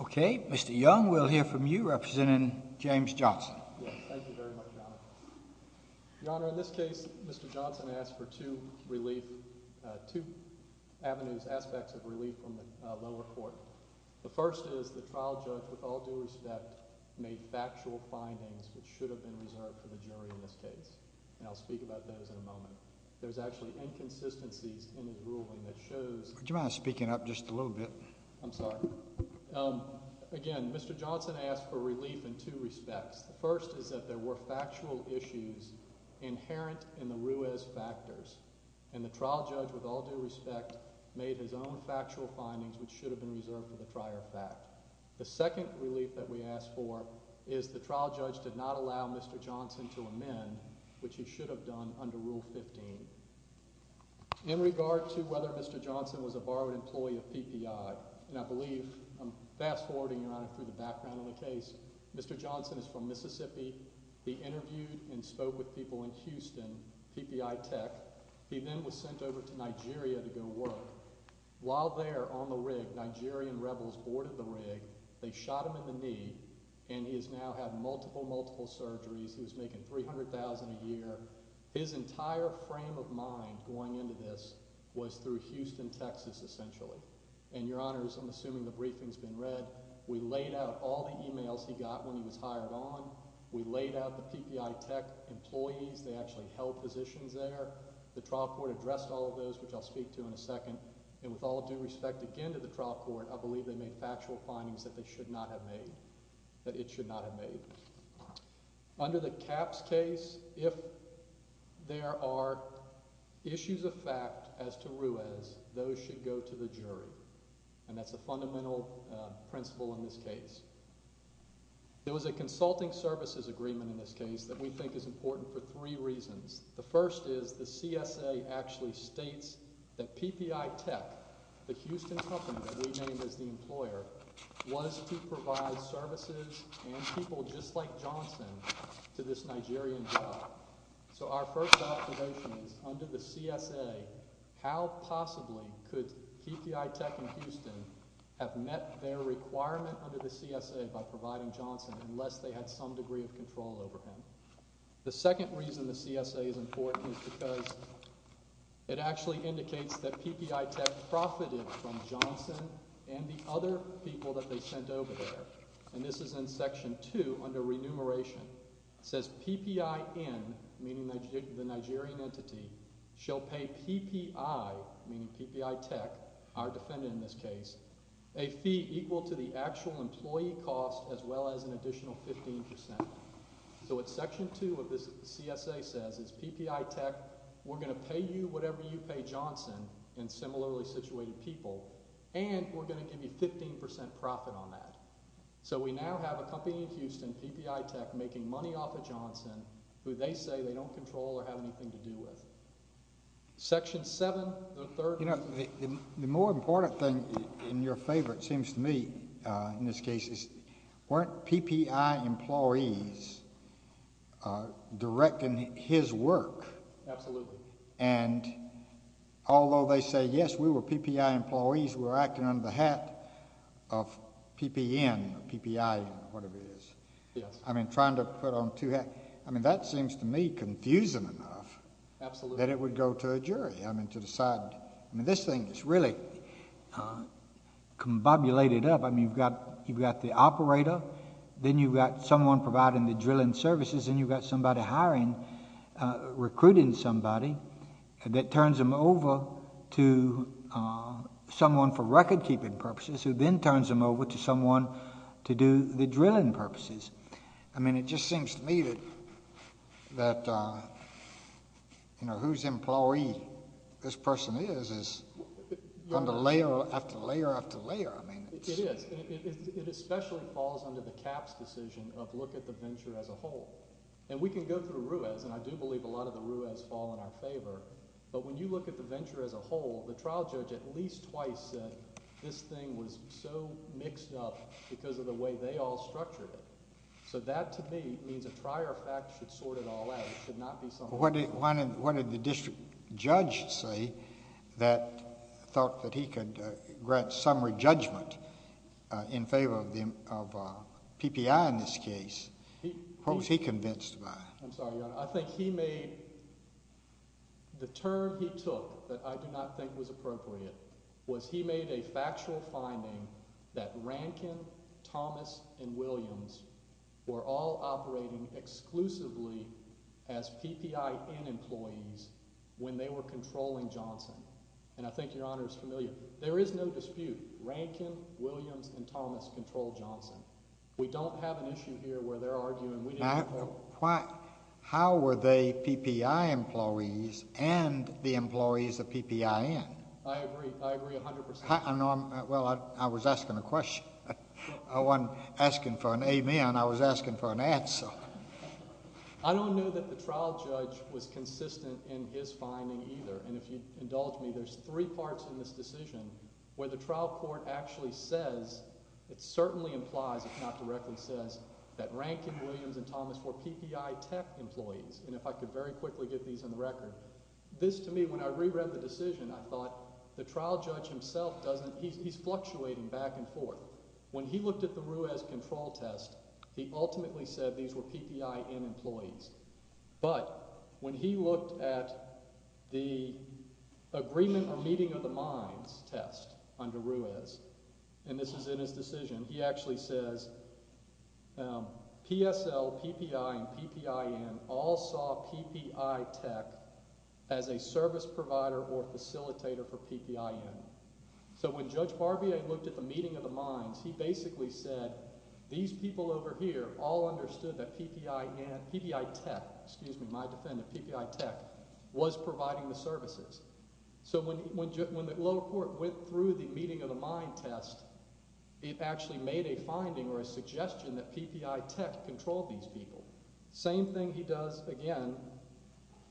Okay, Mr. Young, we'll hear from you, representing James Johnson. Yes, thank you very much, Your Honor. Your Honor, in this case, Mr. Johnson asked for two relief, two avenues, aspects of relief from the lower court. The first is the trial judge, with all due respect, made factual findings which should have been reserved for the jury in this case. And I'll speak about those in a moment. There's actually inconsistencies in his ruling that shows... Would you mind speaking up just a little bit? I'm sorry. Again, Mr. Johnson asked for relief in two respects. The first is that there were factual issues inherent in the Ruiz factors. And the trial judge, with all due respect, made his own factual findings which should have been reserved for the trier of fact. The second relief that we asked for is the trial judge did not allow Mr. Johnson to amend the rule 15, which he should have done under Rule 15. In regard to whether Mr. Johnson was a borrowed employee of PPI, and I believe, fast forwarding, Your Honor, through the background of the case, Mr. Johnson is from Mississippi. He interviewed and spoke with people in Houston, PPI Tech. He then was sent over to Nigeria to go work. While there, on the rig, Nigerian rebels boarded the rig. They shot him in the knee. He was making $300,000. His entire frame of mind going into this was through Houston, Texas, essentially. And, Your Honor, I'm assuming the briefing's been read. We laid out all the emails he got when he was hired on. We laid out the PPI Tech employees. They actually held positions there. The trial court addressed all of those, which I'll speak to in a second. And with all due respect, again, to the trial court, I believe they made factual findings that they should not have made, that it should not have made. We laid out the PPI Tech employees. They actually held positions there. And with all due respect, if there are issues of fact as to Ruiz, those should go to the jury, and that's a fundamental principle in this case. It was a consulting services agreement in this case that we think is important for three reasons. The first is the CSA actually states that PPI Tech, the Houston company we named as the employer, was to provide services and people just like Johnson to this Nigerian job. So our first observation is under the CSA, how possibly could PPI Tech in Houston have met their requirement under the CSA by providing Johnson unless they had some degree of control over him? The second reason the CSA is important is because it actually indicates that PPI Tech has profited from Johnson and the other people that they sent over there, and this is in section two under remuneration. It says PPI N, meaning the Nigerian entity, shall pay PPI, meaning PPI Tech, our defendant in this case, a fee equal to the actual employee cost as well as an additional 15%. So what section two of this CSA says is PPI Tech, we're going to pay you whatever you have to pay Johnson and similarly situated people, and we're going to give you 15% profit on that. So we now have a company in Houston, PPI Tech, making money off of Johnson who they say they don't control or have anything to do with. Section seven, the third. You know, the more important thing in your favor, it seems to me, in this case, is weren't Although they say, yes, we were PPI employees, we were acting under the hat of PPN, PPI whatever it is. Yes. I mean, trying to put on two hats. I mean, that seems to me confusing enough that it would go to a jury, I mean, to decide. I mean, this thing is really combobulated up. I mean, you've got the operator, then you've got someone providing the drilling services, then you've got somebody hiring, recruiting somebody, that turns them over to someone for recordkeeping purposes, who then turns them over to someone to do the drilling purposes. I mean, it just seems to me that, you know, whose employee this person is, is under layer after layer after layer. I mean, it's What did the district judge say that thought that he could grant summary judgment in favor of PPI in this case? What was he convinced by? I'm sorry, Your Honor. I think he made, the term he took that I do not think was appropriate, was he made a factual finding that Rankin, Thomas, and Williams were all operating exclusively as PPN employees when they were controlling Johnson. And I think Your Honor is familiar. There is no dispute. Rankin, Williams, and Thomas controlled Johnson. We don't have an issue here where they're arguing. How were they PPI employees and the employees of PPN? I agree. I agree 100%. Well, I was asking a question. I wasn't asking for an amen. I was asking for an answer. I don't know that the trial judge was consistent in his finding either. And if you indulge me, there's three parts in this decision where the trial court actually says, it certainly implies, if not directly says, that Rankin, Williams, and Thomas were PPI tech employees. And if I could very quickly get these on the record. This, to me, when I reread the decision, I thought, the trial judge himself doesn't, he's fluctuating back and forth. When he looked at the Ruiz control test, he ultimately said these were PPI N employees. But when he looked at the agreement or meeting of the minds test under Ruiz, and this is in his decision, he actually says, PSL, PPI, and PPI N all saw PPI tech as a service provider or facilitator for PPI N. So when Judge Barbier looked at the meeting of the minds, he basically said, these people over here all understood that PPI tech, excuse me, my defendant, PPI tech, was providing the services. So when the lower court went through the meeting of the mind test, it actually made a finding or a suggestion that PPI tech controlled these people. Same thing he does again,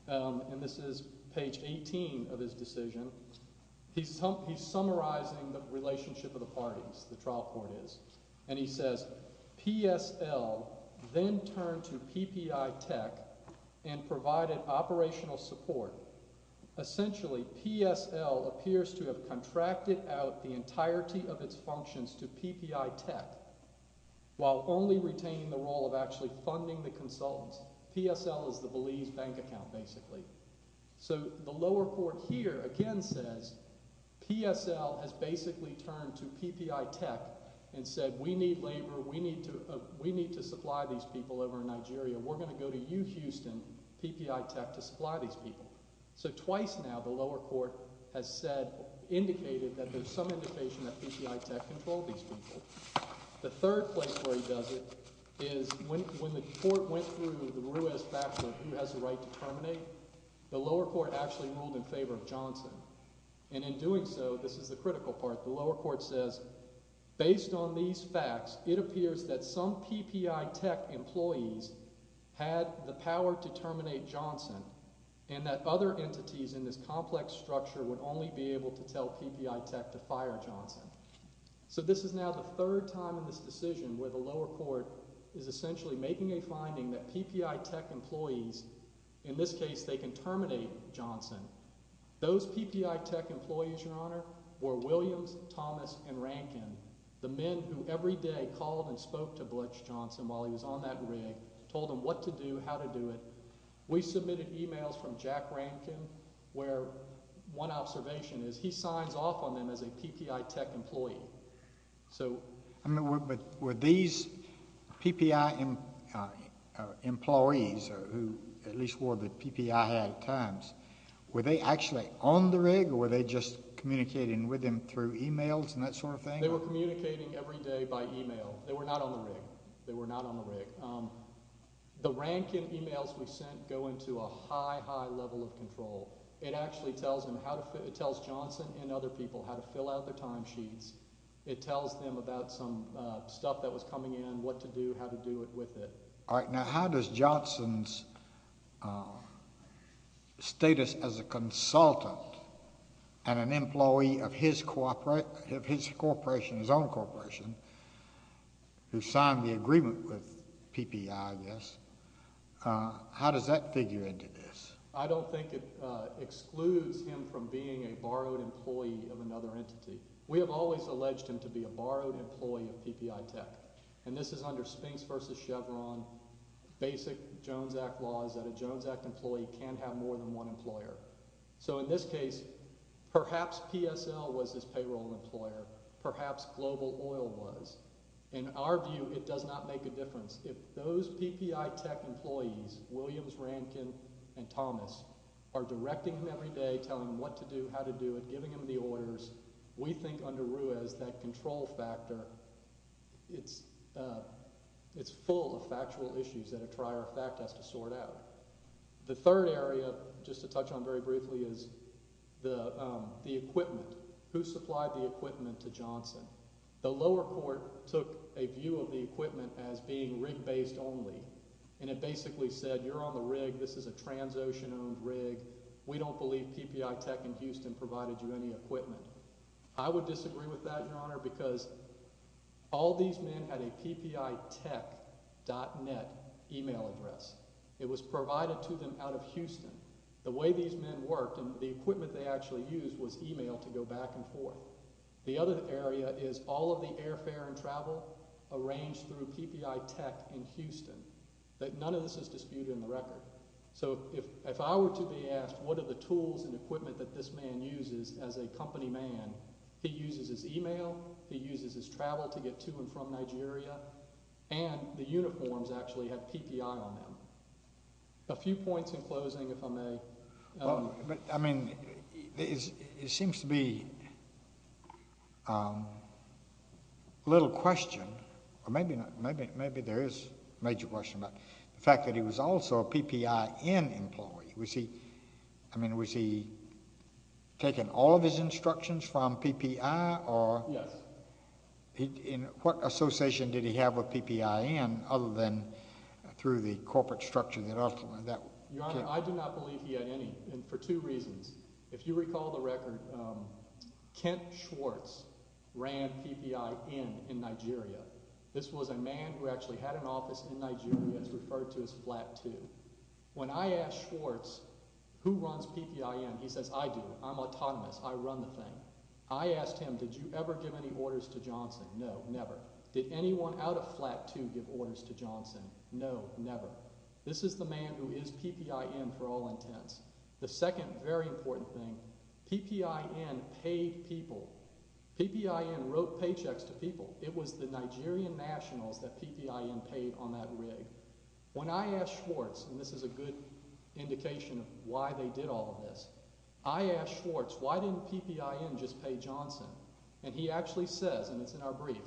and this is page 18 of his decision, he's summarizing the relationship of the parties, the trial court is. And he says, PSL then turned to PPI tech and provided operational support. Essentially, PSL appears to have contracted out the entirety of its functions to PPI tech, while only retaining the role of actually funding the consultants. PSL is the Belize bank account, basically. So the lower court here again says, PSL has basically turned to PPI tech and said, we need labor, we need to supply these people over in Nigeria. We're going to go to you, Houston, PPI tech, to supply these people. So twice now, the lower court has said, indicated that there's some indication that PPI tech controlled these people. The third place where he does it is when the court went through the Ruiz-Fackler, who has the right to terminate, the lower court actually ruled in favor of Johnson. And in doing so, this is the critical part, the lower court says, based on these facts, it appears that some PPI tech employees had the power to terminate Johnson, and that other entities in this complex structure would only be able to tell PPI tech to fire Johnson. So this is now the third time in this decision where the lower court is essentially making a finding that PPI tech employees, in this case, they can terminate Johnson. Those PPI tech employees, Your Honor, were Williams, Thomas, and Rankin, the men who every day called and spoke to Butch Johnson while he was on that rig, told him what to do, how to do it. We submitted emails from Jack Rankin where one observation is he signs off on them as a PPI tech employee. I mean, were these PPI employees, or who at least wore the PPI hat at times, were they actually on the rig, or were they just communicating with him through emails and that sort of thing? They were communicating every day by email. They were not on the rig. They were not on the rig. The Rankin emails we sent go into a high, high level of control. It actually tells Johnson and other people how to fill out their timesheets. It tells them about some stuff that was coming in, what to do, how to do it with it. All right, now how does Johnson's status as a consultant and an employee of his corporation, his own corporation, who signed the agreement with PPI, I guess, how does that figure into this? I don't think it excludes him from being a borrowed employee of another entity. We have always alleged him to be a borrowed employee of PPI Tech, and this is under Spinks v. Chevron, basic Jones Act laws that a Jones Act employee can't have more than one employer. So in this case, perhaps PSL was his payroll employer. Perhaps Global Oil was. In our view, it does not make a difference. If those PPI Tech employees, Williams, Rankin, and Thomas, are directing them every day, telling them what to do, how to do it, giving them the orders, we think under Ruiz that control factor, it's full of factual issues that a trier of fact has to sort out. The third area, just to touch on very briefly, is the equipment. Who supplied the equipment to Johnson? The lower court took a view of the equipment as being rig-based only, and it basically said, you're on the rig, this is a transocean-owned rig, we don't believe PPI Tech in Houston provided you any equipment. I would disagree with that, Your Honor, because all these men had a ppitech.net email address. It was provided to them out of Houston. The way these men worked and the equipment they actually used was emailed to go back and forth. The other area is all of the airfare and travel arranged through PPI Tech in Houston. None of this is disputed in the record. If I were to be asked what are the tools and equipment that this man uses as a company man, he uses his email, he uses his travel to get to and from Nigeria, and the uniforms actually have PPI on them. A few points in closing, if I may. But, I mean, it seems to be a little question, or maybe not, maybe there is a major question about the fact that he was also a PPI-N employee. Was he, I mean, was he taking all of his instructions from PPI? Yes. And what association did he have with PPI-N other than through the corporate structure that ultimately that? Your Honor, I do not believe he had any, and for two reasons. If you recall the record, Kent Schwartz ran PPI-N in Nigeria. This was a man who actually had an office in Nigeria. It's referred to as Flat 2. When I asked Schwartz who runs PPI-N, he says, I do. I'm autonomous. I run the thing. I asked him, did you ever give any orders to Johnson? No, never. Did anyone out of Flat 2 give orders to Johnson? No, never. This is the man who is PPI-N for all intents. The second very important thing, PPI-N paid people. PPI-N wrote paychecks to people. It was the Nigerian nationals that PPI-N paid on that rig. When I asked Schwartz, and this is a good indication of why they did all of this, I asked Schwartz, why didn't PPI-N just pay Johnson? And he actually says, and it's in our brief,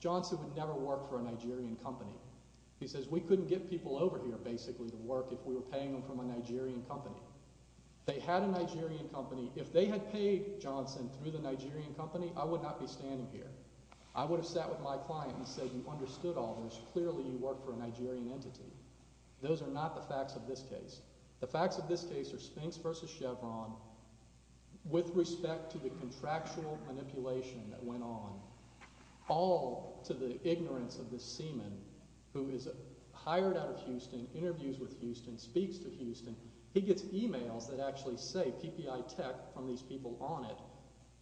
Johnson would never work for a Nigerian company. He says, we couldn't get people over here basically to work if we were paying them from a Nigerian company. They had a Nigerian company. If they had paid Johnson through the Nigerian company, I would not be standing here. I would have sat with my client and said, you understood all this. Clearly, you work for a Nigerian entity. Those are not the facts of this case. The facts of this case are Spinks v. Chevron with respect to the contractual manipulation that went on, all to the ignorance of this seaman who is hired out of Houston, interviews with Houston, speaks to Houston. He gets e-mails that actually say PPI Tech from these people on it.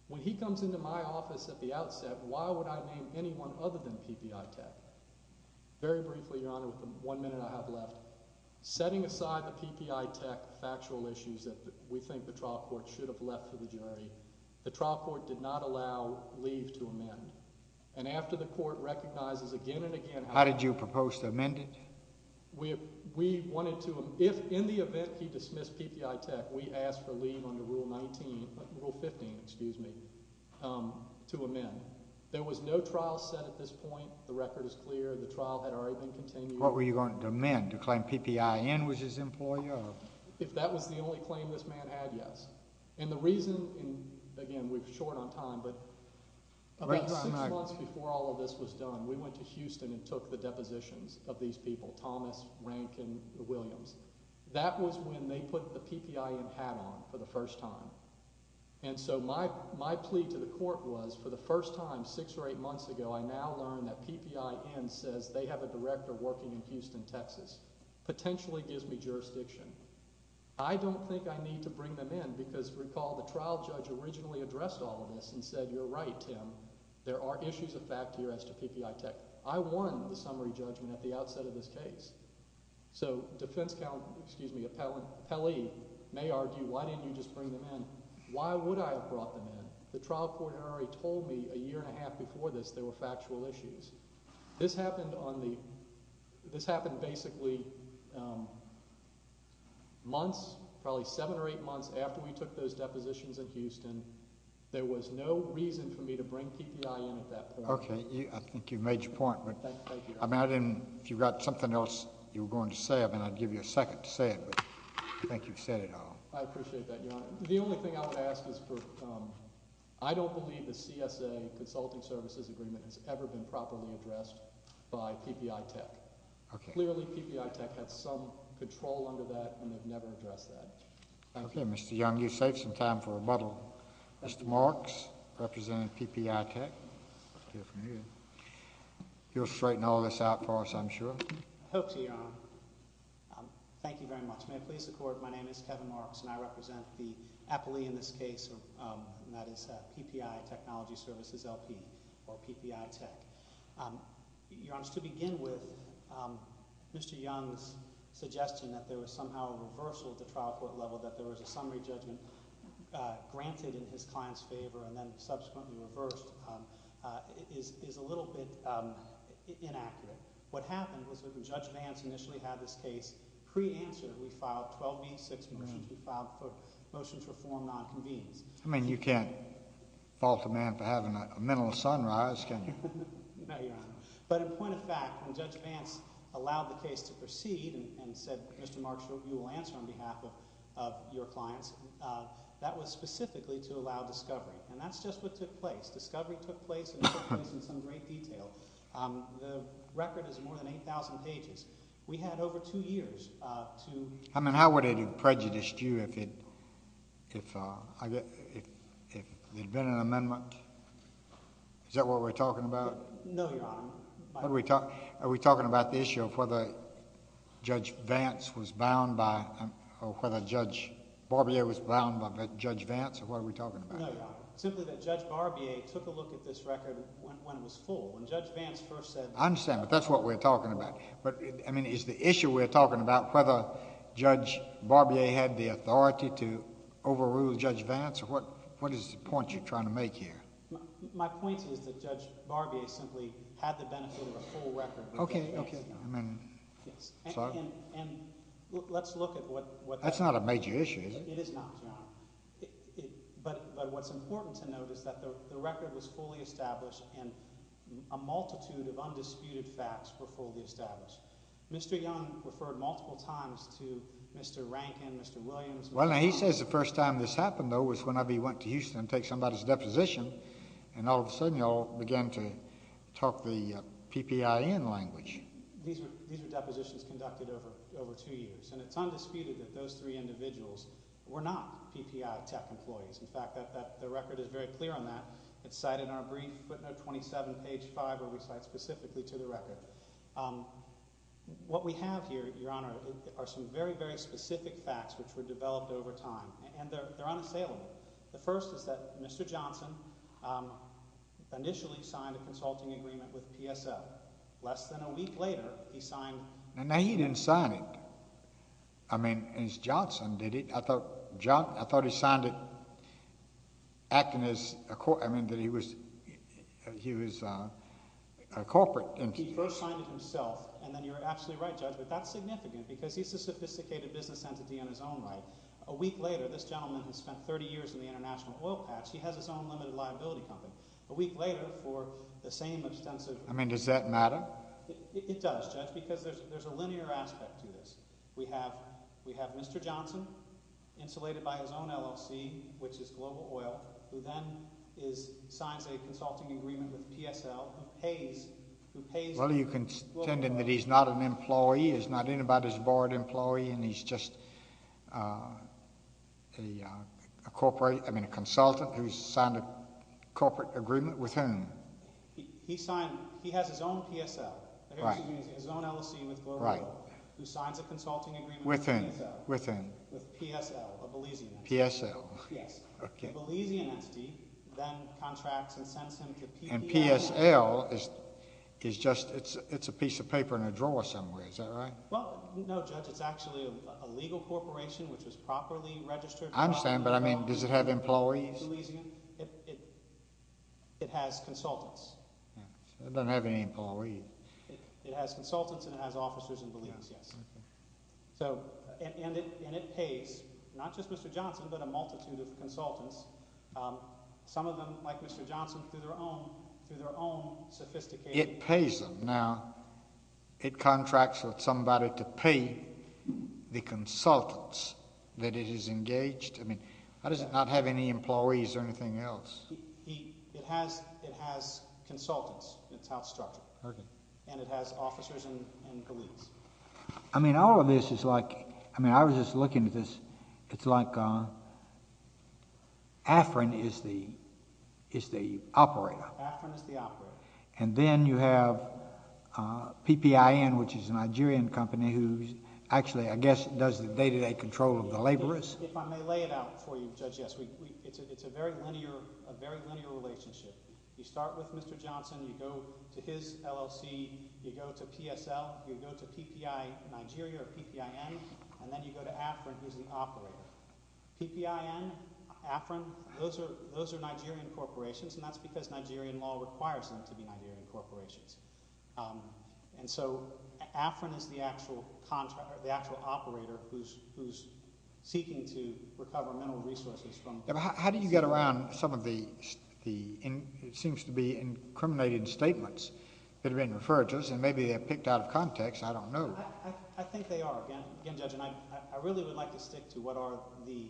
When he comes into my office at the outset, why would I name anyone other than PPI Tech? Very briefly, Your Honor, with the one minute I have left, setting aside the PPI Tech factual issues that we think the trial court should have left to the jury, the trial court did not allow leave to amend. And after the court recognizes again and again how— How did you propose to amend it? We wanted to—if in the event he dismissed PPI Tech, we asked for leave under Rule 19—Rule 15, excuse me, to amend. There was no trial set at this point. The record is clear. The trial had already been continued. What were you going to amend, to claim PPI N was his employer? If that was the only claim this man had, yes. And the reason—and, again, we're short on time, but about six months before all of this was done, we went to Houston and took the depositions of these people, Thomas, Rank, and Williams. That was when they put the PPI N hat on for the first time. And so my plea to the court was, for the first time, six or eight months ago, I now learn that PPI N says they have a director working in Houston, Texas. Potentially gives me jurisdiction. I don't think I need to bring them in because, recall, the trial judge originally addressed all of this and said, You're right, Tim, there are issues of fact here as to PPI Tech. I won the summary judgment at the outset of this case. So defense counsel—excuse me, appellee may argue, Why didn't you just bring them in? Why would I have brought them in? The trial court had already told me a year and a half before this there were factual issues. This happened on the—this happened basically months, probably seven or eight months after we took those depositions in Houston. There was no reason for me to bring PPI in at that point. Okay. I think you've made your point. Thank you. I mean, I didn't—if you've got something else you were going to say, I mean, I'd give you a second to say it, but I think you've said it all. I appreciate that, Your Honor. The only thing I would ask is for—I don't believe the CSA consulting services agreement has ever been properly addressed by PPI Tech. Clearly, PPI Tech had some control under that, and they've never addressed that. Okay, Mr. Young, you saved some time for rebuttal. Mr. Marks, representing PPI Tech, you'll straighten all this out for us, I'm sure. I hope so, Your Honor. Thank you very much. Your Honor, may I please record my name is Kevin Marks, and I represent the appellee in this case, and that is PPI Technology Services, LP, or PPI Tech. Your Honor, to begin with, Mr. Young's suggestion that there was somehow a reversal at the trial court level, that there was a summary judgment granted in his client's favor and then subsequently reversed, is a little bit inaccurate. What happened was when Judge Vance initially had this case pre-answered, we filed 12B, six motions. We filed motions for form nonconvenience. I mean, you can't fault a man for having a mental sunrise, can you? No, Your Honor. But in point of fact, when Judge Vance allowed the case to proceed and said, Mr. Marks, you will answer on behalf of your clients, that was specifically to allow discovery. And that's just what took place. Discovery took place and took place in some great detail. The record is more than 8,000 pages. We had over two years to... I mean, how would it have prejudiced you if it had been an amendment? Is that what we're talking about? No, Your Honor. Are we talking about the issue of whether Judge Vance was bound by, or whether Judge Barbier was bound by Judge Vance, or what are we talking about? No, Your Honor. Simply that Judge Barbier took a look at this record when it was full. When Judge Vance first said... I understand, but that's what we're talking about. But, I mean, is the issue we're talking about whether Judge Barbier had the authority to overrule Judge Vance? What is the point you're trying to make here? My point is that Judge Barbier simply had the benefit of a full record. Okay, okay. And let's look at what... That's not a major issue, is it? It is not, Your Honor. But what's important to note is that the record was fully established, and a multitude of undisputed facts were fully established. Mr. Young referred multiple times to Mr. Rankin, Mr. Williams... Well, he says the first time this happened, though, was whenever he went to Houston to take somebody's deposition, and all of a sudden y'all began to talk the PPIN language. These were depositions conducted over two years, and it's undisputed that those three individuals were not PPI tech employees. In fact, the record is very clear on that. It's cited in our brief, footnote 27, page 5, where we cite specifically to the record. What we have here, Your Honor, are some very, very specific facts which were developed over time, and they're unassailable. The first is that Mr. Johnson initially signed a consulting agreement with PSL. Less than a week later, he signed... Now, he didn't sign it. I mean, it's Johnson, did he? I thought he signed it acting as... I mean, that he was a corporate... He first signed it himself, and then you're absolutely right, Judge, but that's significant because he's a sophisticated business entity in his own right. A week later, this gentleman has spent 30 years in the international oil patch. He has his own limited liability company. A week later, for the same extensive... I mean, does that matter? It does, Judge, because there's a linear aspect to this. We have Mr. Johnson, insulated by his own LLC, which is Global Oil, who then signs a consulting agreement with PSL, who pays... Well, are you contending that he's not an employee, he's not anybody's board employee, and he's just a corporate... I mean, a consultant who's signed a corporate agreement with whom? He signed... he has his own PSL. Right. His own LLC with Global Oil, who signs a consulting agreement with PSL. With whom? With PSL, a Belizean entity. PSL. Yes. Okay. A Belizean entity then contracts and sends him to... And PSL is just... it's a piece of paper in a drawer somewhere. Is that right? Well, no, Judge. It's actually a legal corporation, which is properly registered... I understand, but I mean, does it have employees? It has consultants. It doesn't have any employees. It has consultants and it has officers and Belizeans, yes. Okay. And it pays not just Mr. Johnson, but a multitude of consultants, some of them like Mr. Johnson, through their own sophisticated... It pays them. Now, it contracts with somebody to pay the consultants that it has engaged. I mean, how does it not have any employees or anything else? It has consultants. That's how it's structured. Okay. And it has officers and Belizeans. I mean, all of this is like... I mean, I was just looking at this. It's like AFRIN is the operator. AFRIN is the operator. And then you have PPIN, which is a Nigerian company who actually, I guess, does the day-to-day control of the laborers. If I may lay it out for you, Judge, yes. It's a very linear relationship. You start with Mr. Johnson, you go to his LLC, you go to PSL, you go to PPI Nigeria or PPIN, and then you go to AFRIN, who's the operator. PPIN, AFRIN, those are Nigerian corporations, and that's because Nigerian law requires them to be Nigerian corporations. And so, AFRIN is the actual operator who's seeking to recover mineral resources from... It seems to be incriminating statements that have been referred to us, and maybe they're picked out of context. I don't know. I think they are. Again, Judge, I really would like to stick to what are the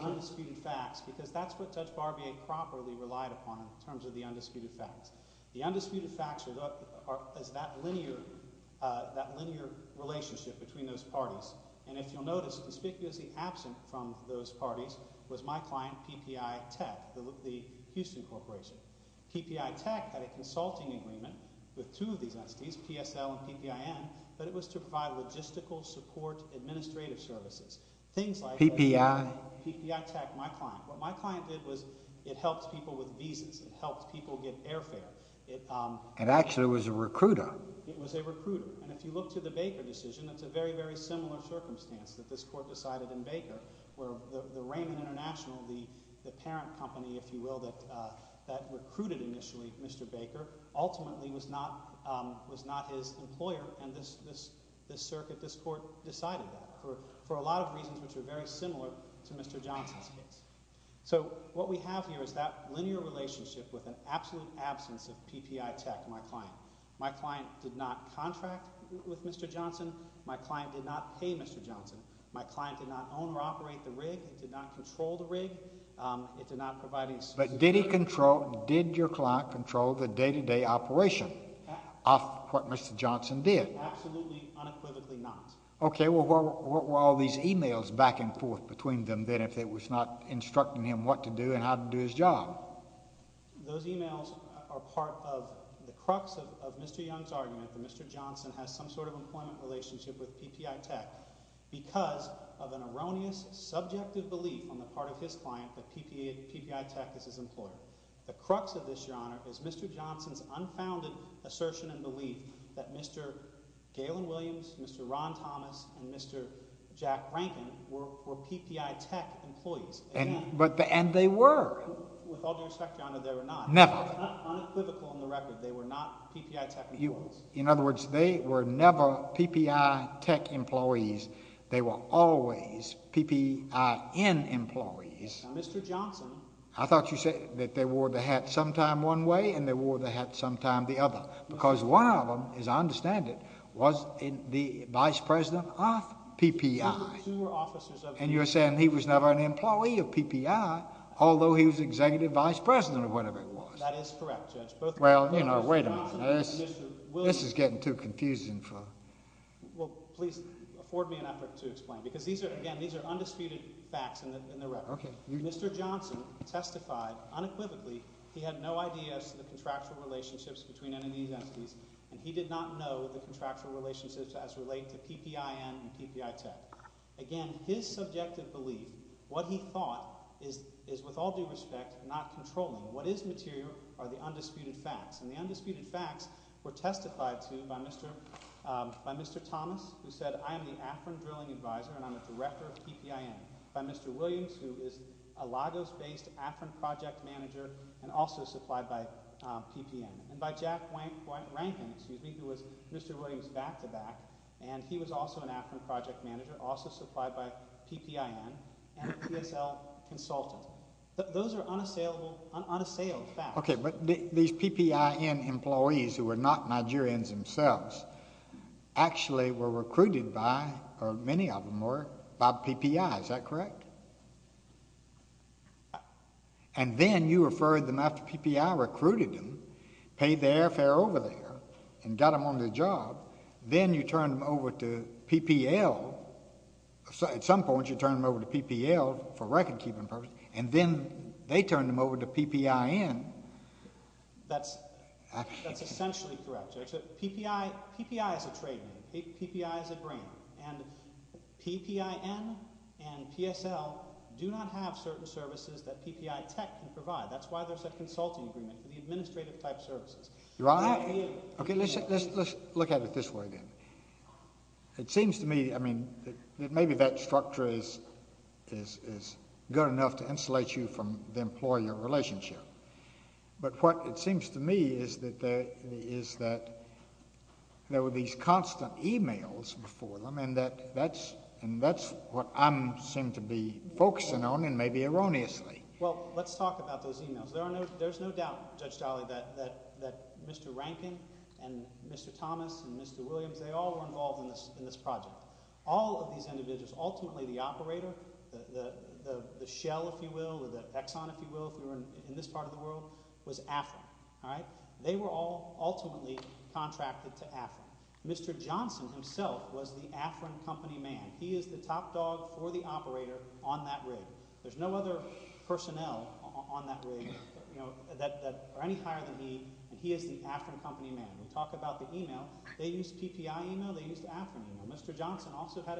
undisputed facts because that's what Judge Barbier properly relied upon in terms of the undisputed facts. The undisputed facts are that linear relationship between those parties. And if you'll notice, conspicuously absent from those parties was my client, PPI Tech, the Houston Corporation. PPI Tech had a consulting agreement with two of these entities, PSL and PPIN, but it was to provide logistical support administrative services. Things like... PPI? PPI Tech, my client. What my client did was it helped people with visas. It helped people get airfare. It actually was a recruiter. And if you look to the Baker decision, it's a very, very similar circumstance that this court decided in Baker where the Raymond International, the parent company, if you will, that recruited initially Mr. Baker, ultimately was not his employer. And this circuit, this court decided that for a lot of reasons which are very similar to Mr. Johnson's case. So what we have here is that linear relationship with an absolute absence of PPI Tech, my client. My client did not contract with Mr. Johnson. My client did not pay Mr. Johnson. My client did not own or operate the rig. It did not control the rig. It did not provide any... But did he control... did your client control the day-to-day operation of what Mr. Johnson did? Absolutely unequivocally not. Okay. Well, what were all these emails back and forth between them then if it was not instructing him what to do and how to do his job? Well, those emails are part of the crux of Mr. Young's argument that Mr. Johnson has some sort of employment relationship with PPI Tech because of an erroneous subjective belief on the part of his client that PPI Tech is his employer. The crux of this, Your Honor, is Mr. Johnson's unfounded assertion and belief that Mr. Galen Williams, Mr. Ron Thomas, and Mr. Jack Rankin were PPI Tech employees. And they were. With all due respect, Your Honor, they were not. Never. Unequivocal on the record, they were not PPI Tech employees. In other words, they were never PPI Tech employees. They were always PPIN employees. Mr. Johnson... I thought you said that they wore the hat sometime one way and they wore the hat sometime the other because one of them, as I understand it, was the vice president of PPI. And you're saying he was never an employee of PPI although he was executive vice president or whatever it was. That is correct, Judge. Well, you know, wait a minute. This is getting too confusing for... Well, please afford me an effort to explain because these are, again, these are undisputed facts in the record. Mr. Johnson testified unequivocally he had no idea as to the contractual relationships between any of these entities and he did not know the contractual relationships as related to PPIN and PPI Tech. Again, his subjective belief, what he thought, is with all due respect not controlling. What is material are the undisputed facts. And the undisputed facts were testified to by Mr. Thomas who said, I am the AFRIN drilling advisor and I'm a director of PPIN. By Mr. Williams who is a Lagos-based AFRIN project manager and also supplied by PPN. And by Jack Rankin, excuse me, who was Mr. Williams' back-to-back and he was also an AFRIN project manager, also supplied by PPN and a PSL consultant. Those are unassailed facts. Okay, but these PPN employees who were not Nigerians themselves actually were recruited by, or many of them were, by PPI. Is that correct? And then you referred them after PPI recruited them, paid their airfare over there and got them on the job. Then you turned them over to PPL. At some point you turned them over to PPL for record-keeping purposes. And then they turned them over to PPIN. That's essentially correct, Judge. PPI is a trade name. PPI is a brand. And PPN and PSL do not have certain services that PPI tech can provide. That's why there's a consulting agreement for the administrative type services. You're right. Okay, let's look at it this way then. It seems to me, I mean, maybe that structure is good enough to insulate you from the employer relationship. But what it seems to me is that there were these constant emails before them, and that's what I seem to be focusing on, and maybe erroneously. Well, let's talk about those emails. There's no doubt, Judge Dolley, that Mr. Rankin and Mr. Thomas and Mr. Williams, they all were involved in this project. All of these individuals, ultimately the operator, the shell, if you will, the exon, if you will, if you're in this part of the world, was AFRIN. They were all ultimately contracted to AFRIN. Mr. Johnson himself was the AFRIN company man. He is the top dog for the operator on that rig. There's no other personnel on that rig that are any higher than me, and he is the AFRIN company man. We talk about the email. They used PPI email. They used AFRIN email. Mr. Johnson also had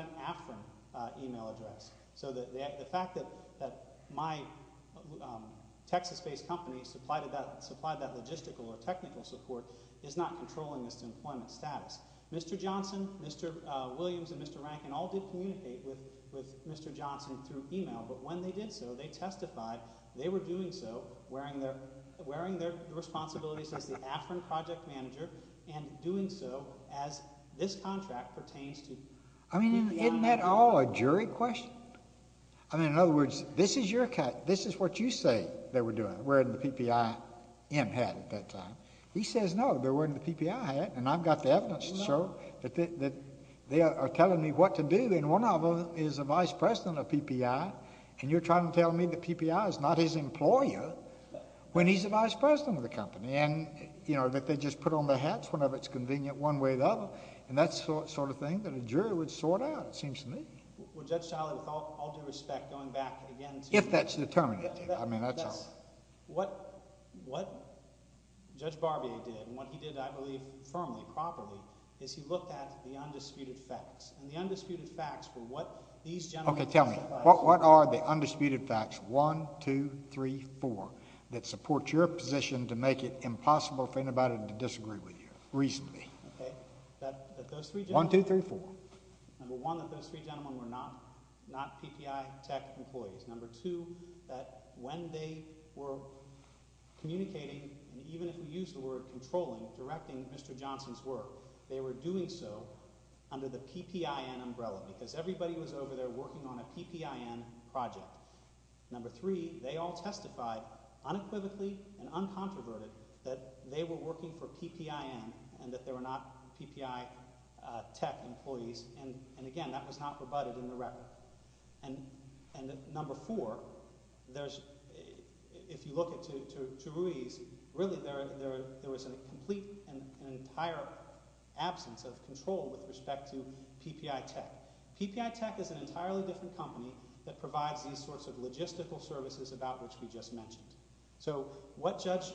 an AFRIN email address. So the fact that my Texas-based company supplied that logistical or technical support is not controlling this employment status. Mr. Johnson, Mr. Williams, and Mr. Rankin all did communicate with Mr. Johnson through email, but when they did so, they testified they were doing so, wearing their responsibilities as the AFRIN project manager, and doing so as this contract pertains to PPI. I mean, isn't that all a jury question? I mean, in other words, this is what you say they were doing, wearing the PPI hat at that time. He says, no, they're wearing the PPI hat, and I've got the evidence to show that they are telling me what to do, and one of them is the vice president of PPI, and you're trying to tell me the PPI is not his employer when he's the vice president of the company, and, you know, that they just put on their hats whenever it's convenient one way or the other, and that sort of thing that a jury would sort out, it seems to me. Well, Judge Childy, with all due respect, going back again to— If that's determined, I mean, that's all. What Judge Barbier did, and what he did, I believe, firmly, properly, is he looked at the undisputed facts, and the undisputed facts were what these gentlemen testified— Okay, tell me, what are the undisputed facts, one, two, three, four, that support your position to make it impossible for anybody to disagree with you, reasonably? Okay, that those three gentlemen— One, two, three, four. Number one, that those three gentlemen were not PPI tech employees. Number two, that when they were communicating, and even if we use the word controlling, directing Mr. Johnson's work, they were doing so under the PPIN umbrella because everybody was over there working on a PPIN project. Number three, they all testified unequivocally and uncontroverted that they were working for PPIN and that they were not PPI tech employees, and again, that was not rebutted in the record. And number four, if you look to Ruiz, really, there was a complete and entire absence of control with respect to PPI tech. PPI tech is an entirely different company that provides these sorts of logistical services about which we just mentioned. So what Judge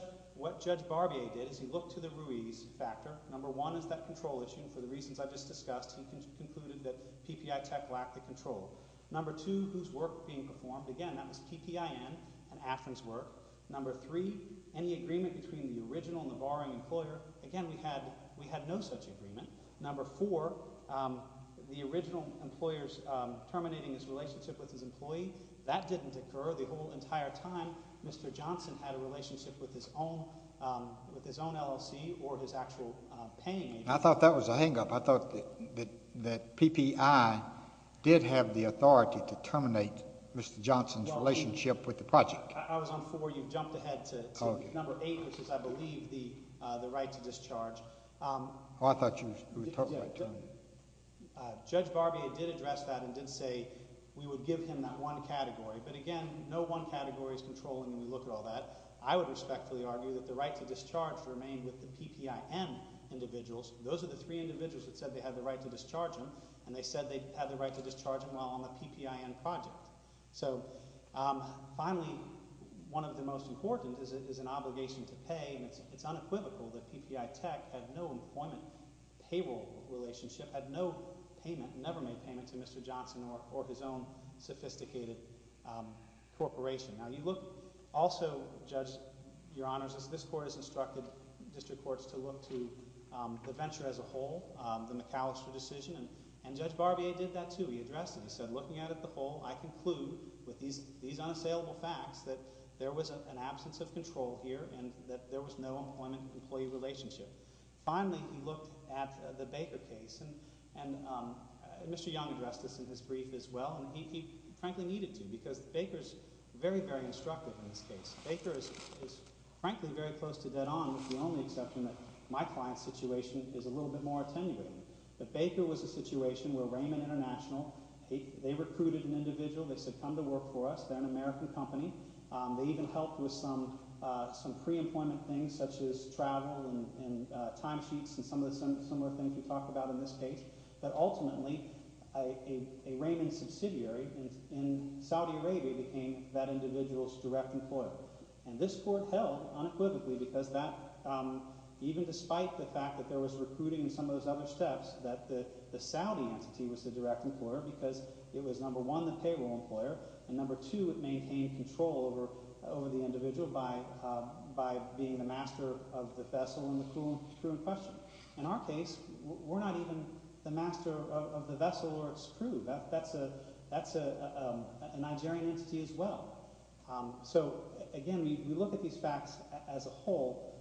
Barbier did is he looked to the Ruiz factor. Number one is that control issue. For the reasons I just discussed, he concluded that PPI tech lacked the control. Number two, whose work being performed. Again, that was PPIN and Atherton's work. Number three, any agreement between the original and the borrowing employer. Again, we had no such agreement. Number four, the original employer's terminating his relationship with his employee. That didn't occur the whole entire time. Mr. Johnson had a relationship with his own LLC or his actual paying agent. I thought that was a hangup. I thought that PPI did have the authority to terminate Mr. Johnson's relationship with the project. I was on four. You've jumped ahead to number eight, which is, I believe, the right to discharge. Oh, I thought you were talking about terminating. Judge Barbier did address that and did say we would give him that one category. But, again, no one category is controlling when we look at all that. I would respectfully argue that the right to discharge remained with the PPIN individuals. Those are the three individuals that said they had the right to discharge him, and they said they had the right to discharge him while on the PPIN project. So finally, one of the most important is an obligation to pay, and it's unequivocal that PPI tech had no employment payroll relationship, had no payment, never made payment to Mr. Johnson or his own sophisticated corporation. Now you look also, Judge, Your Honors, as this court has instructed district courts to look to the venture as a whole, the McAllister decision, and Judge Barbier did that too. He addressed it. He said looking at it the whole, I conclude with these unassailable facts that there was an absence of control here and that there was no employment employee relationship. Finally, he looked at the Baker case, and Mr. Young addressed this in his brief as well, and he frankly needed to because Baker is very, very instructive in this case. Baker is frankly very close to dead on with the only exception that my client's situation is a little bit more attenuating. But Baker was a situation where Raymond International, they recruited an individual. They said come to work for us. They're an American company. They even helped with some pre-employment things such as travel and timesheets and some of the similar things we talked about in this case. But ultimately, a Raymond subsidiary in Saudi Arabia became that individual's direct employer, and this court held unequivocally because that even despite the fact that there was recruiting and some of those other steps that the Saudi entity was the direct employer because it was, number one, the payroll employer, and number two, it maintained control over the individual by being the master of the vessel and the crew in question. In our case, we're not even the master of the vessel or its crew. That's a Nigerian entity as well. So, again, we look at these facts as a whole,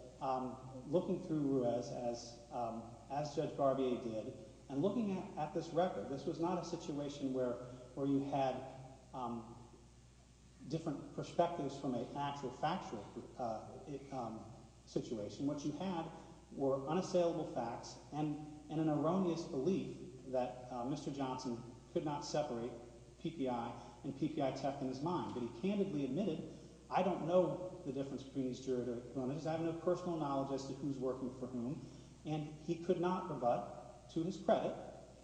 looking through Ruiz as Judge Garvey did, and looking at this record. This was not a situation where you had different perspectives from an actual factual situation. What you had were unassailable facts and an erroneous belief that Mr. Johnson could not separate PPI and PPI tech in his mind. But he candidly admitted, I don't know the difference between these jurors. I have no personal knowledge as to who's working for whom, and he could not rebut to his credit.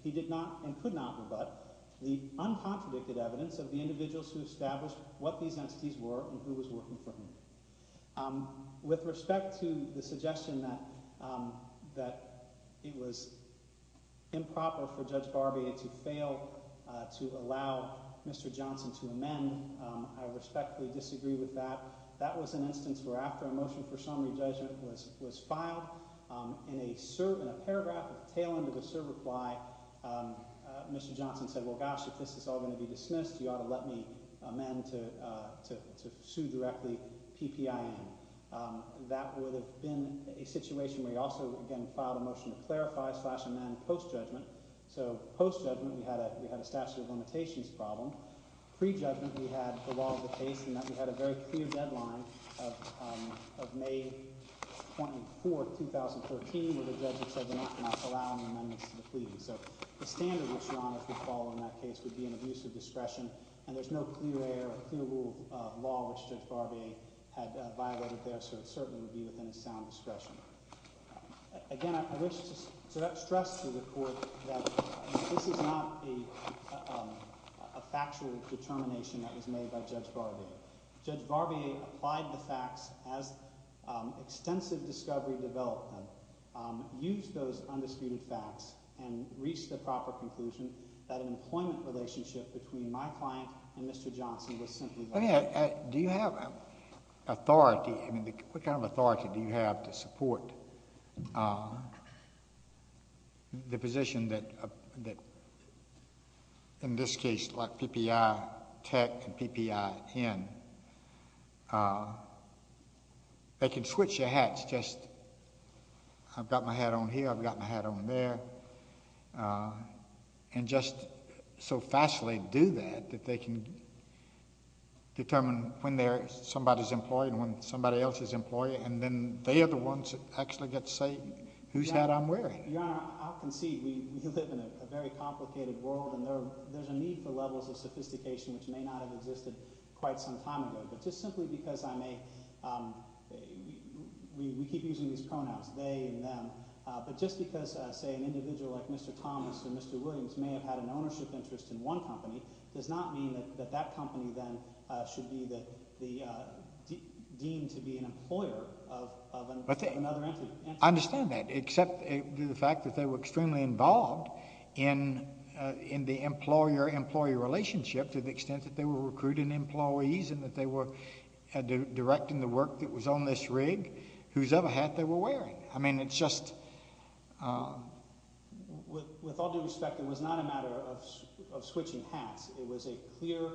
He did not and could not rebut the uncontradicted evidence of the individuals who established what these entities were and who was working for whom. With respect to the suggestion that it was improper for Judge Garvey to fail to allow Mr. Johnson to amend, I respectfully disagree with that. That was an instance where after a motion for summary judgment was filed, in a paragraph at the tail end of the cert reply, Mr. Johnson said, well, gosh, if this is all going to be dismissed, you ought to let me amend to sue directly PPIN. That would have been a situation where he also, again, filed a motion to clarify slash amend post-judgment. So post-judgment, we had a statute of limitations problem. Pre-judgment, we had the law of the case in that we had a very clear deadline of May 24, 2013, where the judge had said they were not allowing the amendments to be pleaded. So the standard which your Honor should follow in that case would be an abuse of discretion, and there's no clear rule of law which Judge Garvey had violated there, so it certainly would be within his sound discretion. Again, I wish to stress to the Court that this is not a factual determination that was made by Judge Garvey. Judge Garvey applied the facts as extensive discovery developed them, used those undisputed facts, and reached the proper conclusion that an employment relationship between my client and Mr. Johnson was simply violated. I mean, do you have authority? I mean, what kind of authority do you have to support the position that, in this case, like PPI Tech and PPIN, they can switch their hats just, I've got my hat on here, I've got my hat on there, and just so fastly do that that they can determine when somebody is employed and when somebody else is employed, and then they are the ones that actually get to say whose hat I'm wearing. Your Honor, I'll concede we live in a very complicated world, and there's a need for levels of sophistication which may not have existed quite some time ago, but just simply because I'm a – we keep using these pronouns, they and them, but just because, say, an individual like Mr. Thomas or Mr. Williams may have had an ownership interest in one company does not mean that that company then should be deemed to be an employer of another entity. I understand that, except the fact that they were extremely involved in the employer-employee relationship to the extent that they were recruiting employees and that they were directing the work that was on this rig, whosever hat they were wearing. I mean it's just – With all due respect, it was not a matter of switching hats. It was a clear,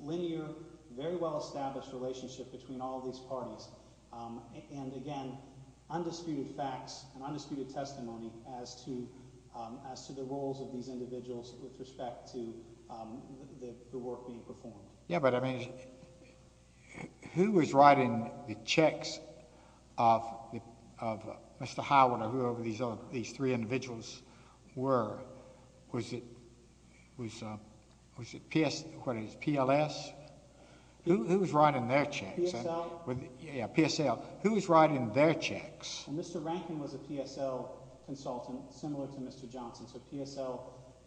linear, very well-established relationship between all of these parties, and again, undisputed facts and undisputed testimony as to the roles of these individuals with respect to the work being performed. Yeah, but I mean who was writing the checks of Mr. Howard or whoever these three individuals were? Was it PLS? Who was writing their checks? PSL? Yeah, PSL. Who was writing their checks? Mr. Rankin was a PSL consultant, similar to Mr. Johnson, so PSL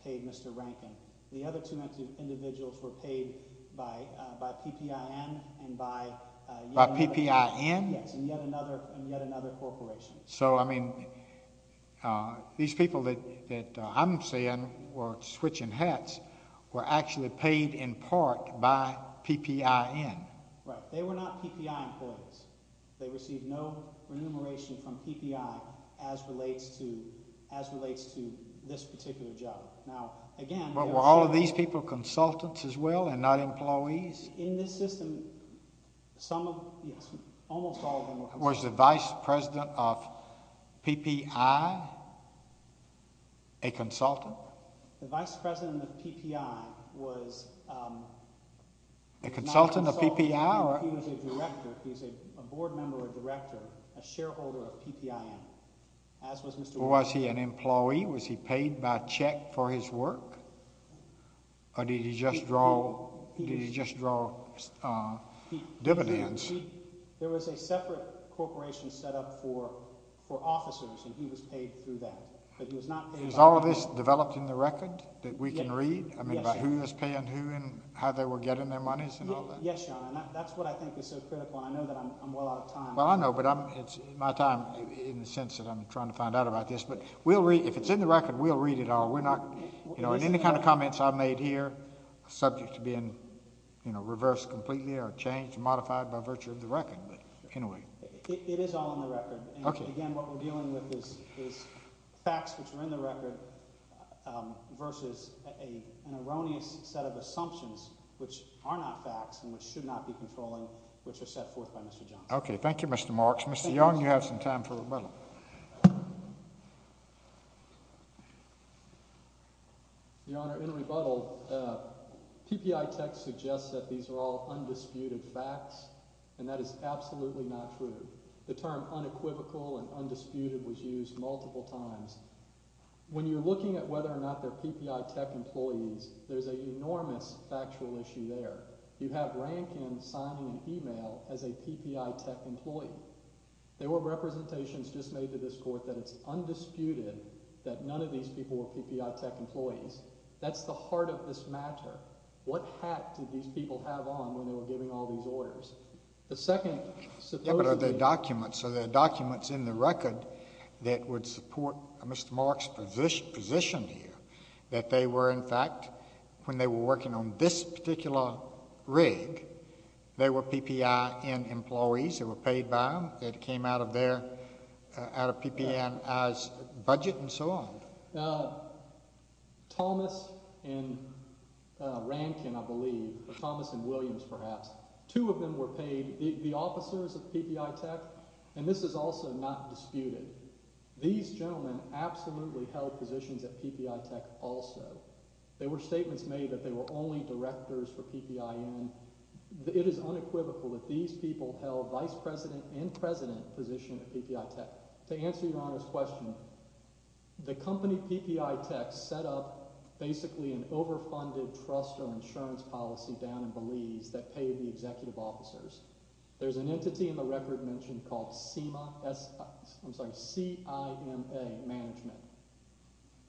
paid Mr. Rankin. The other two individuals were paid by PPN and by – By PPN? Yes, and yet another corporation. So I mean these people that I'm seeing were switching hats were actually paid in part by PPN. Right. They were not PPI employees. They received no remuneration from PPI as relates to this particular job. Now, again – But were all of these people consultants as well and not employees? In this system, some – almost all of them were consultants. Was the vice president of PPI a consultant? The vice president of PPI was – A consultant of PPI or – He was a director. He was a board member or director, a shareholder of PPN, as was Mr. – Was he an employee? Was he paid by check for his work? Or did he just draw dividends? There was a separate corporation set up for officers, and he was paid through that. But he was not paid by – Is all of this developed in the record that we can read? Yes. I mean about who was paying who and how they were getting their monies and all that? Yes, John, and that's what I think is so critical, and I know that I'm well out of time. Well, I know, but it's my time in the sense that I'm trying to find out about this. But we'll read – if it's in the record, we'll read it all. We're not – and any kind of comments I've made here are subject to being reversed completely or changed, modified by virtue of the record. But anyway – It is all in the record. Okay. And, again, what we're dealing with is facts which are in the record versus an erroneous set of assumptions, which are not facts and which should not be controlling, which are set forth by Mr. Johnson. Okay. Thank you, Mr. Marks. Mr. Young, you have some time for rebuttal. Your Honor, in rebuttal, PPI Tech suggests that these are all undisputed facts, and that is absolutely not true. The term unequivocal and undisputed was used multiple times. When you're looking at whether or not they're PPI Tech employees, there's an enormous factual issue there. You have Rankin signing an email as a PPI Tech employee. There were representations just made to this Court that it's undisputed that none of these people were PPI Tech employees. That's the heart of this matter. What hat did these people have on when they were giving all these orders? The second – Yeah, but are there documents – are there documents in the record that would support Mr. Marks' position here, that they were, in fact, when they were working on this particular rig, they were PPI employees who were paid by them, that came out of their – out of PPI's budget and so on? Thomas and Rankin, I believe, or Thomas and Williams, perhaps, two of them were paid, the officers of PPI Tech, and this is also not disputed. These gentlemen absolutely held positions at PPI Tech also. There were statements made that they were only directors for PPIN. It is unequivocal that these people held vice president and president positions at PPI Tech. To answer Your Honor's question, the company PPI Tech set up basically an overfunded trust or insurance policy down in Belize that paid the executive officers. There's an entity in the record mentioned called CIMA Management.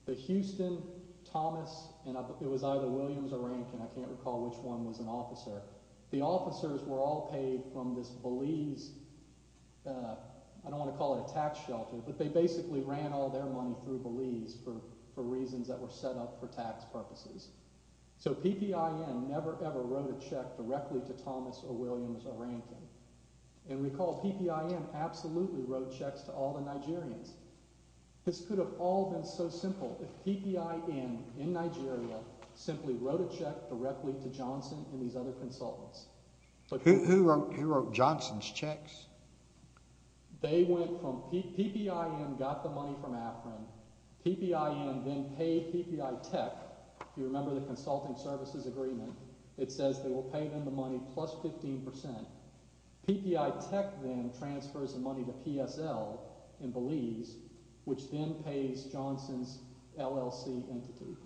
The Houston, Thomas, and it was either Williams or Rankin. I can't recall which one was an officer. The officers were all paid from this Belize – I don't want to call it a tax shelter, but they basically ran all their money through Belize for reasons that were set up for tax purposes. So PPI never ever wrote a check directly to Thomas or Williams or Rankin. And recall PPI absolutely wrote checks to all the Nigerians. This could have all been so simple if PPI in Nigeria simply wrote a check directly to Johnson and these other consultants. Who wrote Johnson's checks? They went from – PPI got the money from AFRIN. PPI then paid PPI Tech. If you remember the consulting services agreement, it says they will pay them the money plus 15%. PPI Tech then transfers the money to PSL in Belize, which then pays Johnson's LLC entity.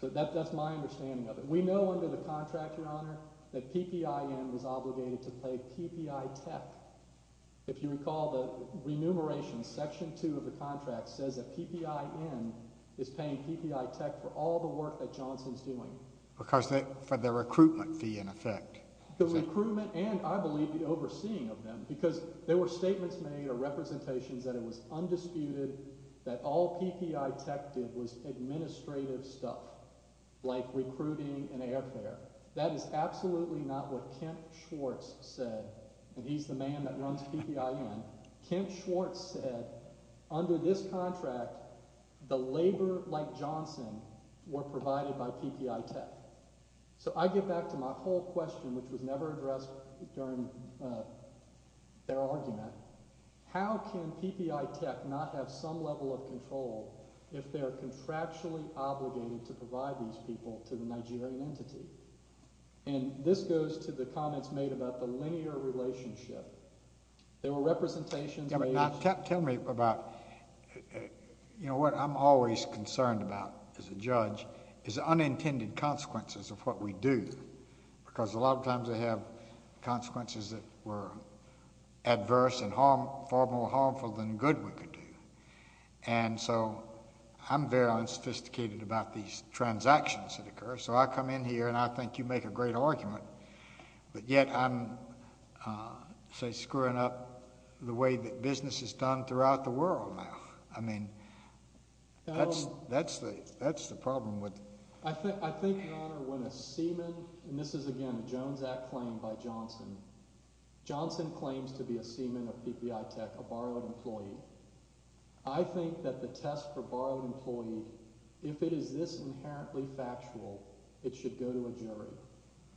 So that's my understanding of it. We know under the contract, Your Honor, that PPI was obligated to pay PPI Tech. If you recall the remuneration, Section 2 of the contract says that PPI N is paying PPI Tech for all the work that Johnson's doing. Because they – for the recruitment fee in effect. The recruitment and, I believe, the overseeing of them because there were statements made or representations that it was undisputed that all PPI Tech did was administrative stuff like recruiting and airfare. That is absolutely not what Kent Schwartz said, and he's the man that runs PPI N. Kent Schwartz said under this contract, the labor like Johnson were provided by PPI Tech. So I get back to my whole question, which was never addressed during their argument. How can PPI Tech not have some level of control if they're contractually obligated to provide these people to the Nigerian entity? And this goes to the comments made about the linear relationship. There were representations made. Tell me about – you know, what I'm always concerned about as a judge is unintended consequences of what we do. Because a lot of times they have consequences that were adverse and far more harmful than good we could do. And so I'm very unsophisticated about these transactions that occur, so I come in here and I think you make a great argument. But yet I'm, say, screwing up the way that business is done throughout the world now. I mean, that's the problem with – I think, Your Honor, when a seaman – and this is, again, a Jones Act claim by Johnson. Johnson claims to be a seaman of PPI Tech, a borrowed employee. I think that the test for borrowed employee, if it is this inherently factual, it should go to a jury.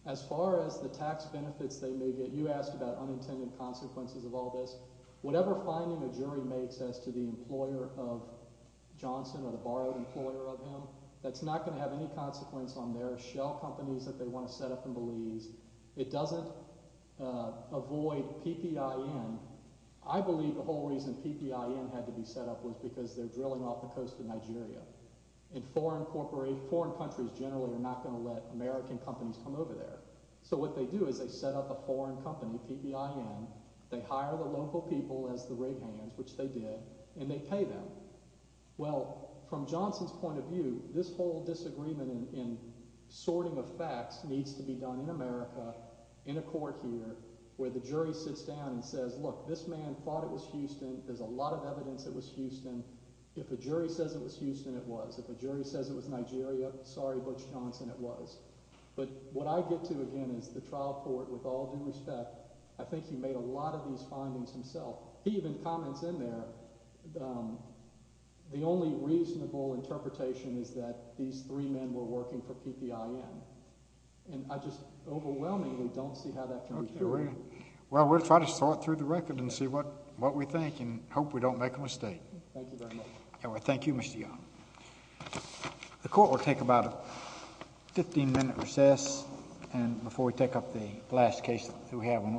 As far as the tax benefits they may get, you asked about unintended consequences of all this. Whatever finding a jury makes as to the employer of Johnson or the borrowed employer of him, that's not going to have any consequence on their shell companies that they want to set up in Belize. It doesn't avoid PPIN. I believe the whole reason PPIN had to be set up was because they're drilling off the coast of Nigeria. And foreign countries generally are not going to let American companies come over there. So what they do is they set up a foreign company, PPIN. They hire the local people as the rig hands, which they did, and they pay them. Well, from Johnson's point of view, this whole disagreement in sorting of facts needs to be done in America in a court here where the jury sits down and says, look, this man thought it was Houston. There's a lot of evidence it was Houston. If a jury says it was Houston, it was. If a jury says it was Nigeria, sorry, Butch Johnson, it was. But what I get to, again, is the trial court, with all due respect, I think he made a lot of these findings himself. He even comments in there the only reasonable interpretation is that these three men were working for PPIN. And I just overwhelmingly don't see how that can be carried. Well, we'll try to sort through the record and see what we think and hope we don't make a mistake. Thank you very much. Thank you, Mr. Young. The court will take about a 15-minute recess. And before we take up the last case that we have on what we're doing.